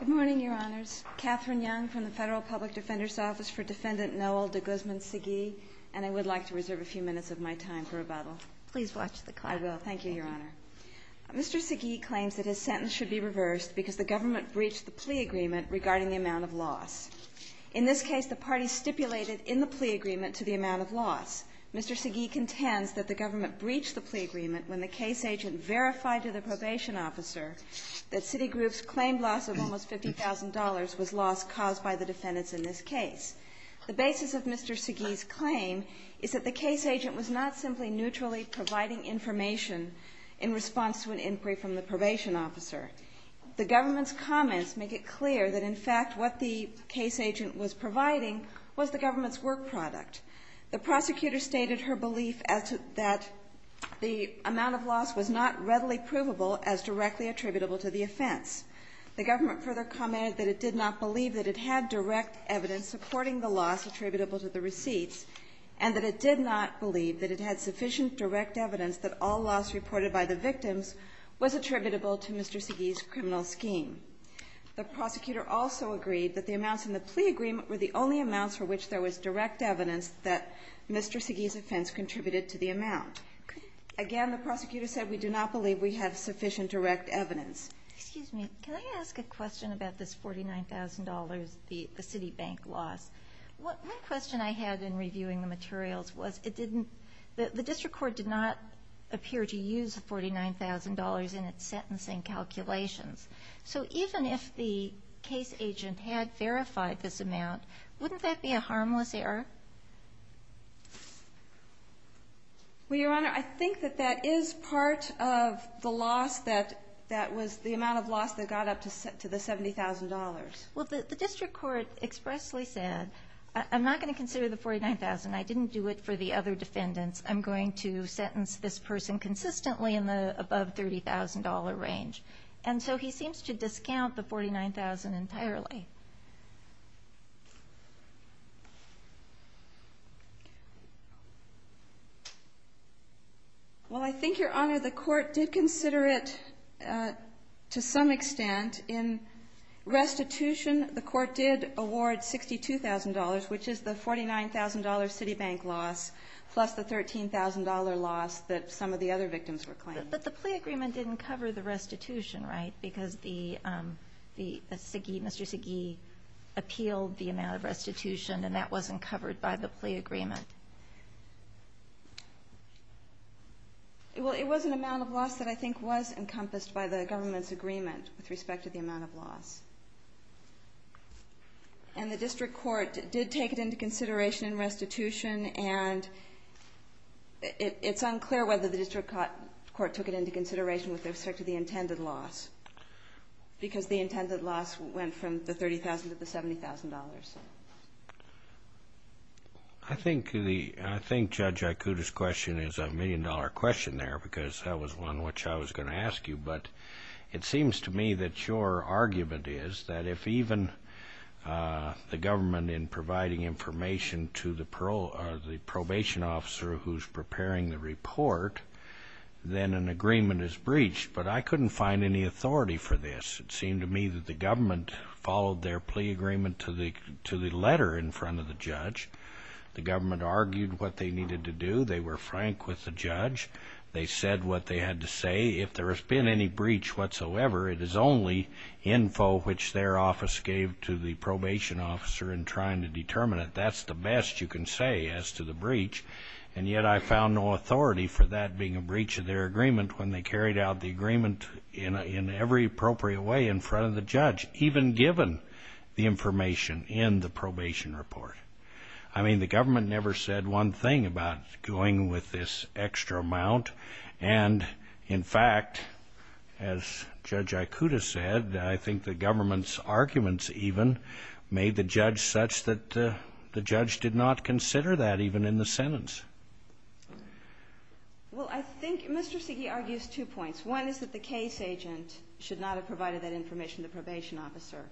Good morning, Your Honors. Katherine Young from the Federal Public Defender's Office for Defendant Noel de Guzman Segui, and I would like to reserve a few minutes of my time for rebuttal. Please watch the clock. I will. Thank you, Your Honor. Mr. Segui claims that his sentence should be reversed because the government breached the plea agreement regarding the amount of loss. In this case, the parties stipulated in the plea agreement to the amount of loss. Mr. Segui contends that the government breached the plea agreement when the case agent verified to the probation officer that Citigroup's claimed loss of almost $50,000 was loss caused by the defendants in this case. The basis of Mr. Segui's claim is that the case agent was not simply neutrally providing information in response to an inquiry from the probation officer. The government's comments make it clear that, in fact, what the case agent was providing was the government's work product. The prosecutor stated her belief as to that the amount of loss was not readily provable as directly attributable to the offense. The government further commented that it did not believe that it had direct evidence supporting the loss attributable to the receipts, and that it did not believe that it had sufficient direct evidence that all loss reported by the victims was attributable to Mr. Segui's criminal scheme. The prosecutor also agreed that the amounts in the plea agreement were the only amounts for which there was direct evidence that Mr. Segui's offense contributed to the amount. Again, the prosecutor said we do not believe we have sufficient direct evidence. Excuse me. Can I ask a question about this $49,000, the Citibank loss? One question I had in reviewing the materials was it didn't – the district court did not appear to use the $49,000 in its sentencing calculations. So even if the case agent had verified this amount, wouldn't that be a harmless error? Well, Your Honor, I think that that is part of the loss that was – the amount of loss that got up to the $70,000. Well, the district court expressly said, I'm not going to consider the $49,000. I didn't do it for the other defendants. I'm going to sentence this person consistently in the above $30,000 range. And so he seems to discount the $49,000 entirely. Well, I think, Your Honor, the court did consider it to some extent. In restitution, the court did award $62,000, which is the $49,000 Citibank loss plus the $13,000 loss that some of the other victims were claiming. But the plea agreement didn't cover the restitution, right? Because the – Mr. Segee appealed the amount of restitution, and that wasn't covered by the plea agreement. Well, it was an amount of loss that I think was encompassed by the government's agreement with respect to the amount of loss. And the district court did take it into consideration in restitution, and it's unclear whether the district court took it into consideration with respect to the intended loss, because the intended loss went from the $30,000 to the $70,000. I think the – I think Judge Ikuda's question is a million-dollar question there, because that was one which I was going to ask you. But it seems to me that your argument is that if even the government, in providing information to the probation officer who's preparing the report, then an agreement is breached. But I couldn't find any authority for this. It seemed to me that the government followed their plea agreement to the letter in front of the judge. The government argued what they needed to do. They were frank with the judge. They said what they had to say. If there has been any breach whatsoever, it is only info which their office gave to the probation officer in trying to determine it. That's the best you can say as to the breach. And yet I found no authority for that being a breach of their agreement when they carried out the agreement in every appropriate way in front of the judge, even given the information in the probation report. I mean, the government never said one thing about going with this extra amount. And, in fact, as Judge Ikuda said, I think the government's arguments even made the judge such that the judge did not consider that even in the sentence. Well, I think Mr. Siege argues two points. One is that the case agent should not have provided that information to the probation officer.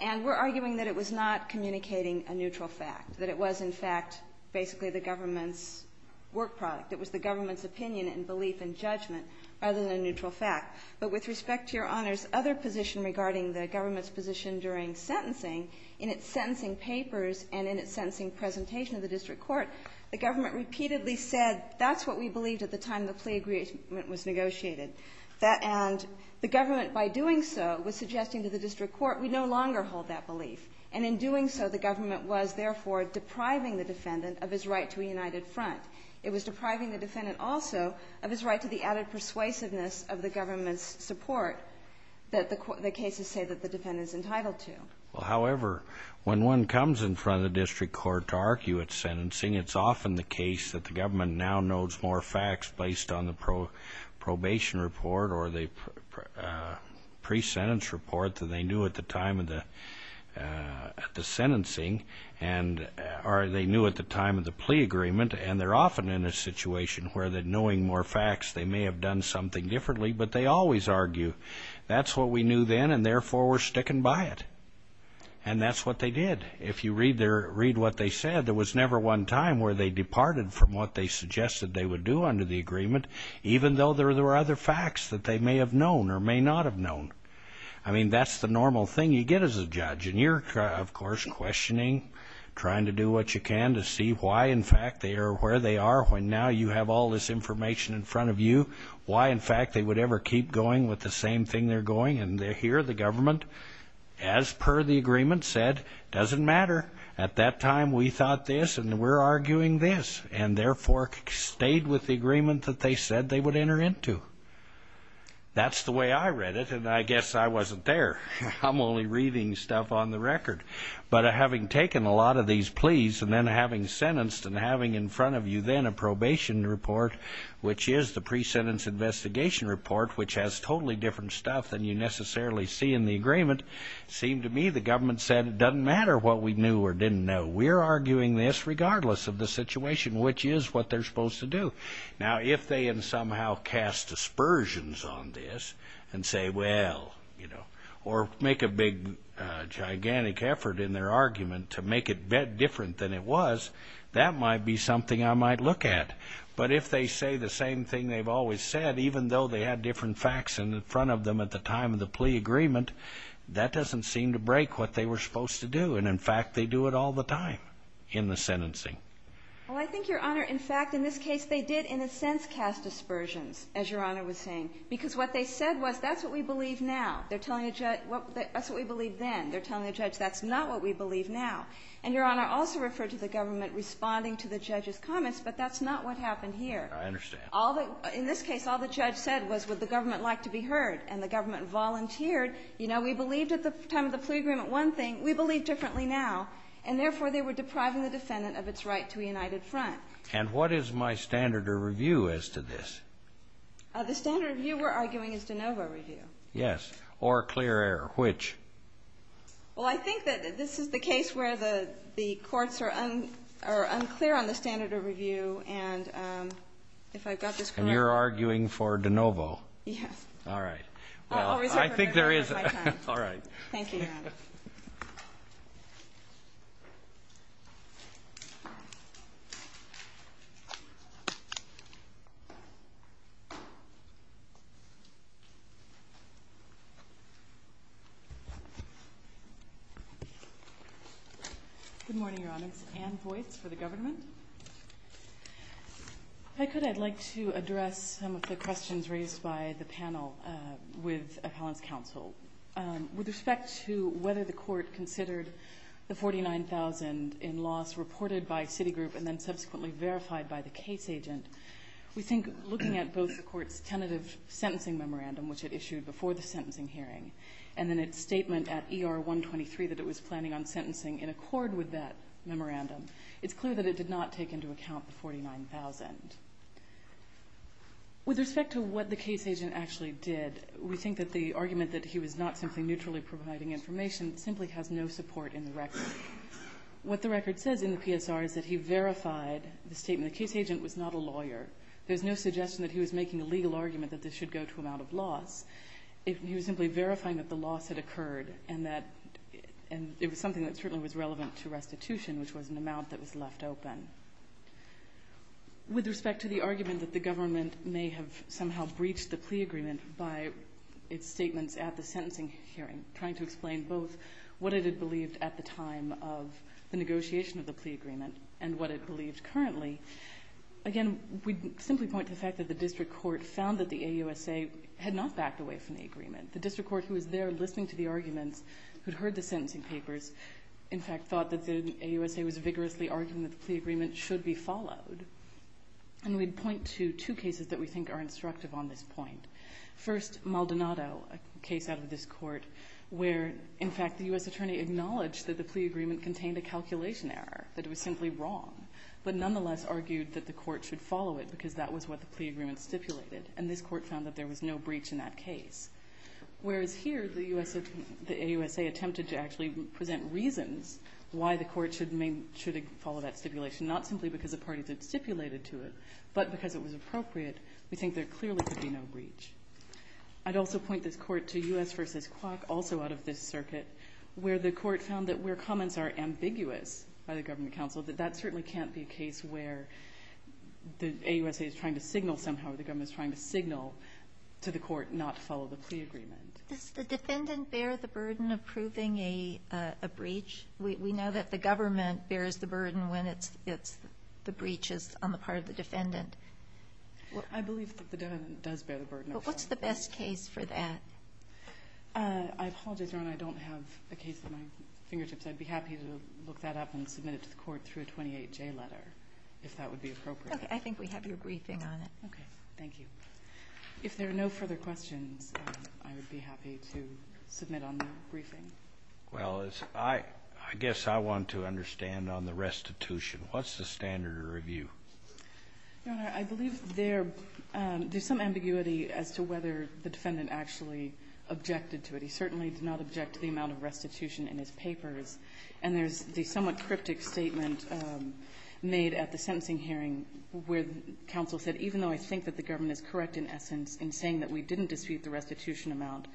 And we're arguing that it was not communicating a neutral fact, that it was, in fact, basically the government's work product. It was the government's opinion and belief and judgment rather than a neutral fact. But with respect to Your Honor's other position regarding the government's position during sentencing, in its sentencing papers and in its sentencing presentation to the district court, the government repeatedly said, that's what we believed at the time the plea agreement was negotiated. And the government, by doing so, was suggesting to the district court, we no longer hold that belief. And in doing so, the government was, therefore, depriving the defendant of his right to a united front. It was depriving the defendant also of his right to the added persuasiveness of the government's support that the cases say that the defendant is entitled to. Well, however, when one comes in front of the district court to argue at sentencing, it's often the case that the government now knows more facts based on the probation report or the pre-sentence report that they knew at the time of the sentencing or they knew at the time of the plea agreement, and they're often in a situation where knowing more facts they may have done something differently, but they always argue, that's what we knew then and, therefore, we're sticking by it. And that's what they did. If you read what they said, there was never one time where they departed from what they suggested they would do under the agreement, even though there were other facts that they may have known or may not have known. I mean, that's the normal thing you get as a judge, and you're, of course, questioning, trying to do what you can to see why, in fact, they are where they are when now you have all this information in front of you, why, in fact, they would ever keep going with the same thing they're going, and here the government, as per the agreement, said, doesn't matter. At that time, we thought this, and we're arguing this, and, therefore, stayed with the agreement that they said they would enter into. That's the way I read it, and I guess I wasn't there. I'm only reading stuff on the record. But having taken a lot of these pleas and then having sentenced and having in front of you then a probation report, which is the pre-sentence investigation report, which has totally different stuff than you necessarily see in the agreement, seemed to me the government said it doesn't matter what we knew or didn't know. We're arguing this regardless of the situation, which is what they're supposed to do. Now, if they had somehow cast aspersions on this and say, well, you know, or make a big gigantic effort in their argument to make it different than it was, that might be something I might look at. But if they say the same thing they've always said, even though they had different facts in front of them at the time of the plea agreement, that doesn't seem to break what they were supposed to do, and, in fact, they do it all the time in the sentencing. Well, I think, Your Honor, in fact, in this case they did in a sense cast aspersions, as Your Honor was saying, because what they said was that's what we believe now. They're telling a judge that's what we believed then. They're telling a judge that's not what we believe now. And, Your Honor, I also referred to the government responding to the judge's comments, but that's not what happened here. I understand. In this case, all the judge said was would the government like to be heard, and the government volunteered. You know, we believed at the time of the plea agreement one thing. We believe differently now. And, therefore, they were depriving the defendant of its right to a united front. And what is my standard of review as to this? The standard of review we're arguing is de novo review. Yes. Or a clear error. Which? Well, I think that this is the case where the courts are unclear on the standard of review, and if I've got this correct. And you're arguing for de novo. Yes. All right. Well, I think there is. Thank you, Your Honor. Thank you, Your Honor. Good morning, Your Honor. It's Anne Boyce for the government. If I could, I'd like to address some of the questions raised by the panel with appellants' counsel. With respect to whether the court considered the $49,000 in loss reported by Citigroup and then subsequently verified by the case agent, we think looking at both the court's tentative sentencing memorandum, which it issued before the sentencing hearing, and then its statement at ER 123 that it was planning on sentencing in accord with that memorandum, it's clear that it did not take into account the $49,000. With respect to what the case agent actually did, we think that the argument that he was not simply neutrally providing information simply has no support in the record. What the record says in the PSR is that he verified the statement. The case agent was not a lawyer. There's no suggestion that he was making a legal argument that this should go to amount of loss. He was simply verifying that the loss had occurred and that it was something that certainly was relevant to restitution, which was an amount that was left open. With respect to the argument that the government may have somehow breached the plea agreement by its statements at the sentencing hearing, trying to explain both what it had believed at the time of the negotiation of the plea agreement and what it believed currently, again, we'd simply point to the fact that the district court found that the AUSA had not backed away from the agreement. The district court who was there listening to the arguments, who'd heard the sentencing papers, in fact thought that the AUSA was vigorously arguing that the plea agreement should be followed. And we'd point to two cases that we think are instructive on this point. First, Maldonado, a case out of this court, where, in fact, the U.S. attorney acknowledged that the plea agreement contained a calculation error, that it was simply wrong, but nonetheless argued that the court should follow it because that was what the plea agreement stipulated, and this court found that there was no breach in that case. Whereas here, the AUSA attempted to actually present reasons why the court should follow that stipulation, not simply because the parties had stipulated to it, but because it was appropriate. We think there clearly could be no breach. I'd also point this court to U.S. v. Quok, also out of this circuit, where the court found that where comments are ambiguous by the government counsel, that that certainly can't be a case where the AUSA is trying to signal somehow or the government is trying to signal to the court not to follow the plea agreement. Does the defendant bear the burden of proving a breach? We know that the government bears the burden when the breach is on the part of the defendant. I believe that the defendant does bear the burden. But what's the best case for that? I apologize, Your Honor. I don't have a case at my fingertips. I'd be happy to look that up and submit it to the court through a 28J letter, if that would be appropriate. Okay. I think we have your briefing on it. Okay. Thank you. If there are no further questions, I would be happy to submit on the briefing. Well, I guess I want to understand on the restitution. What's the standard of review? Your Honor, I believe there's some ambiguity as to whether the defendant actually objected to it. He certainly did not object to the amount of restitution in his papers. And there's the somewhat cryptic statement made at the sentencing hearing where counsel said, even though I think that the government is correct in essence in saying that we didn't dispute the restitution amount,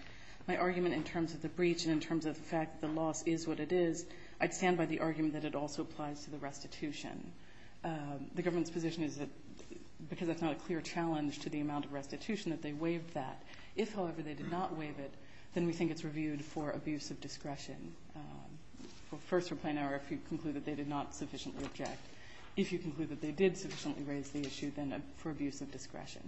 my argument in terms of the breach and in terms of the fact that the loss is what it is, I'd stand by the argument that it also applies to the restitution. The government's position is that because it's not a clear challenge to the amount of restitution, that they waived that. If, however, they did not waive it, then we think it's reviewed for abuse of discretion. First, for plain error, if you conclude that they did not sufficiently object. If you conclude that they did sufficiently raise the issue, then for abuse of discretion.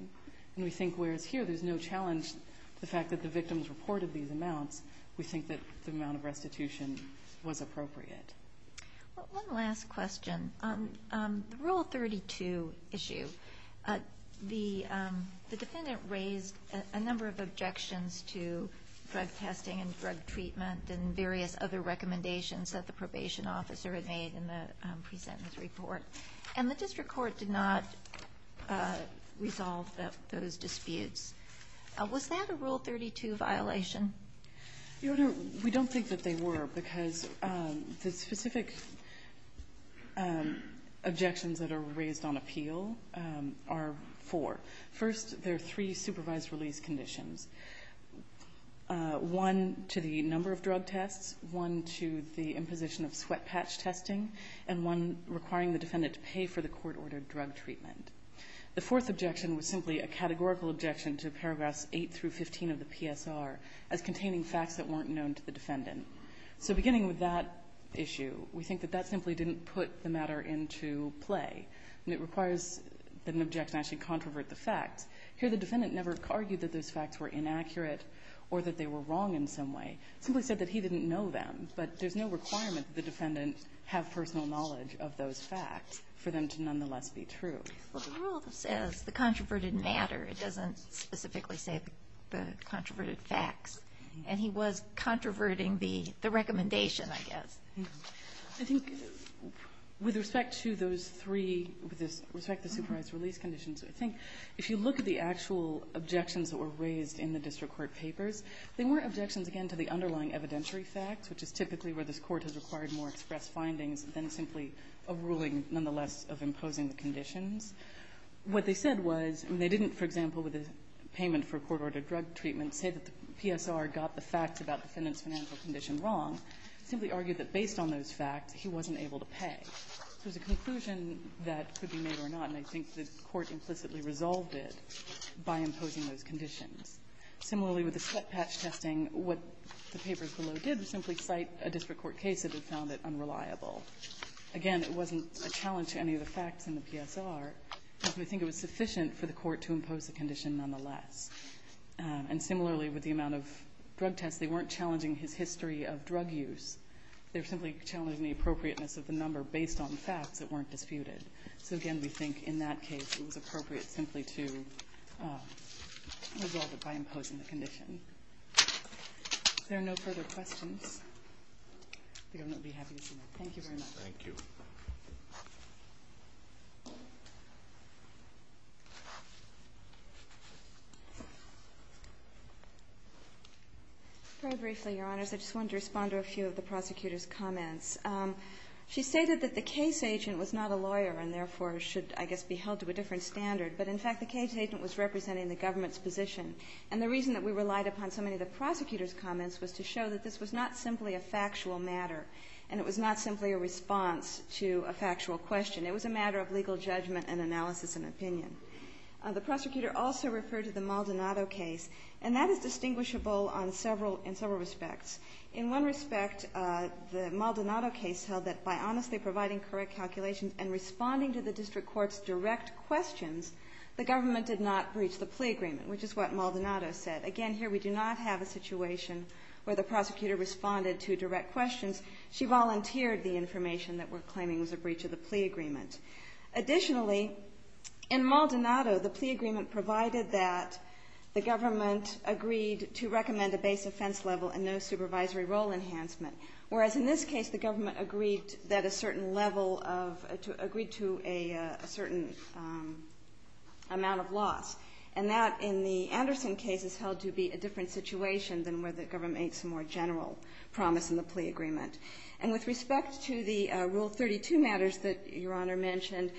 And we think whereas here there's no challenge to the fact that the victims reported these amounts, we think that the amount of restitution was appropriate. Well, one last question. The Rule 32 issue. The defendant raised a number of objections to drug testing and drug treatment and various other recommendations that the probation officer had made in the presentence report. And the district court did not resolve those disputes. Was that a Rule 32 violation? Your Honor, we don't think that they were, because the specific objections that are raised on appeal are four. First, there are three supervised release conditions, one to the number of drug tests, one to the imposition of sweat patch testing, and one requiring the defendant to pay for the court-ordered drug treatment. The fourth objection was simply a categorical objection to paragraphs 8 through 15 of the PSR as containing facts that weren't known to the defendant. So beginning with that issue, we think that that simply didn't put the matter into play, and it requires that an objection actually controvert the facts. Here the defendant never argued that those facts were inaccurate or that they were wrong in some way. It simply said that he didn't know them, but there's no requirement that the defendant have personal knowledge of those facts for them to nonetheless be true. The rule says the controverted matter. It doesn't specifically say the controverted facts. And he was controverting the recommendation, I guess. I think with respect to those three, with respect to the supervised release conditions, I think if you look at the actual objections that were raised in the district court papers, they weren't objections, again, to the underlying evidentiary facts, which is typically where this Court has required more express findings than simply a ruling nonetheless of imposing the conditions. What they said was, and they didn't, for example, with the payment for court-ordered drug treatment, say that the PSR got the facts about the defendant's financial condition wrong, simply argued that based on those facts, he wasn't able to pay. There's a conclusion that could be made or not, and I think the Court implicitly resolved it by imposing those conditions. Similarly, with the sweat patch testing, what the papers below did was simply cite a district court case that had found it unreliable. Again, it wasn't a challenge to any of the facts in the PSR, but we think it was sufficient for the Court to impose the condition nonetheless. And similarly, with the amount of drug tests, they weren't challenging his history of drug use. They were simply challenging the appropriateness of the number based on facts that weren't disputed. So again, we think in that case, it was appropriate simply to resolve it by imposing the condition. If there are no further questions, the Governor will be happy to see you. Thank you very much. Thank you. Very briefly, Your Honors, I just wanted to respond to a few of the prosecutor's comments. She stated that the case agent was not a lawyer and therefore should, I guess, be held to a different standard. But in fact, the case agent was representing the government's position. And the reason that we relied upon so many of the prosecutor's comments was to show that this was not simply a factual matter, and it was not simply a response to a factual question. It was a matter of legal judgment and analysis and opinion. The prosecutor also referred to the Maldonado case, and that is distinguishable in several respects. In one respect, the Maldonado case held that by honestly providing correct calculations and responding to the district court's direct questions, the government did not breach the plea agreement, which is what Maldonado said. Again, here we do not have a situation where the prosecutor responded to direct questions. She volunteered the information that we're claiming was a breach of the plea agreement. Additionally, in Maldonado, the plea agreement provided that the government agreed to recommend a base offense level and no supervisory role enhancement, whereas in this case the government agreed that a certain level of – agreed to a certain amount of loss. And that, in the Anderson case, is held to be a different situation than where the government makes a more general promise in the plea agreement. And with respect to the Rule 32 matters that Your Honor mentioned,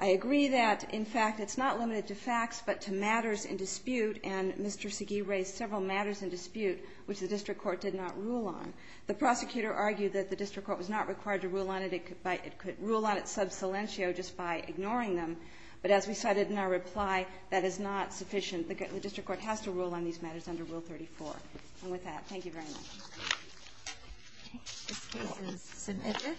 I agree that, in fact, it's not limited to facts but to matters in dispute. And Mr. Segee raised several matters in dispute which the district court did not rule on. The prosecutor argued that the district court was not required to rule on it. It could rule on it sub silentio just by ignoring them. But as we cited in our reply, that is not sufficient. The district court has to rule on these matters under Rule 34. And with that, thank you very much. This case is submitted.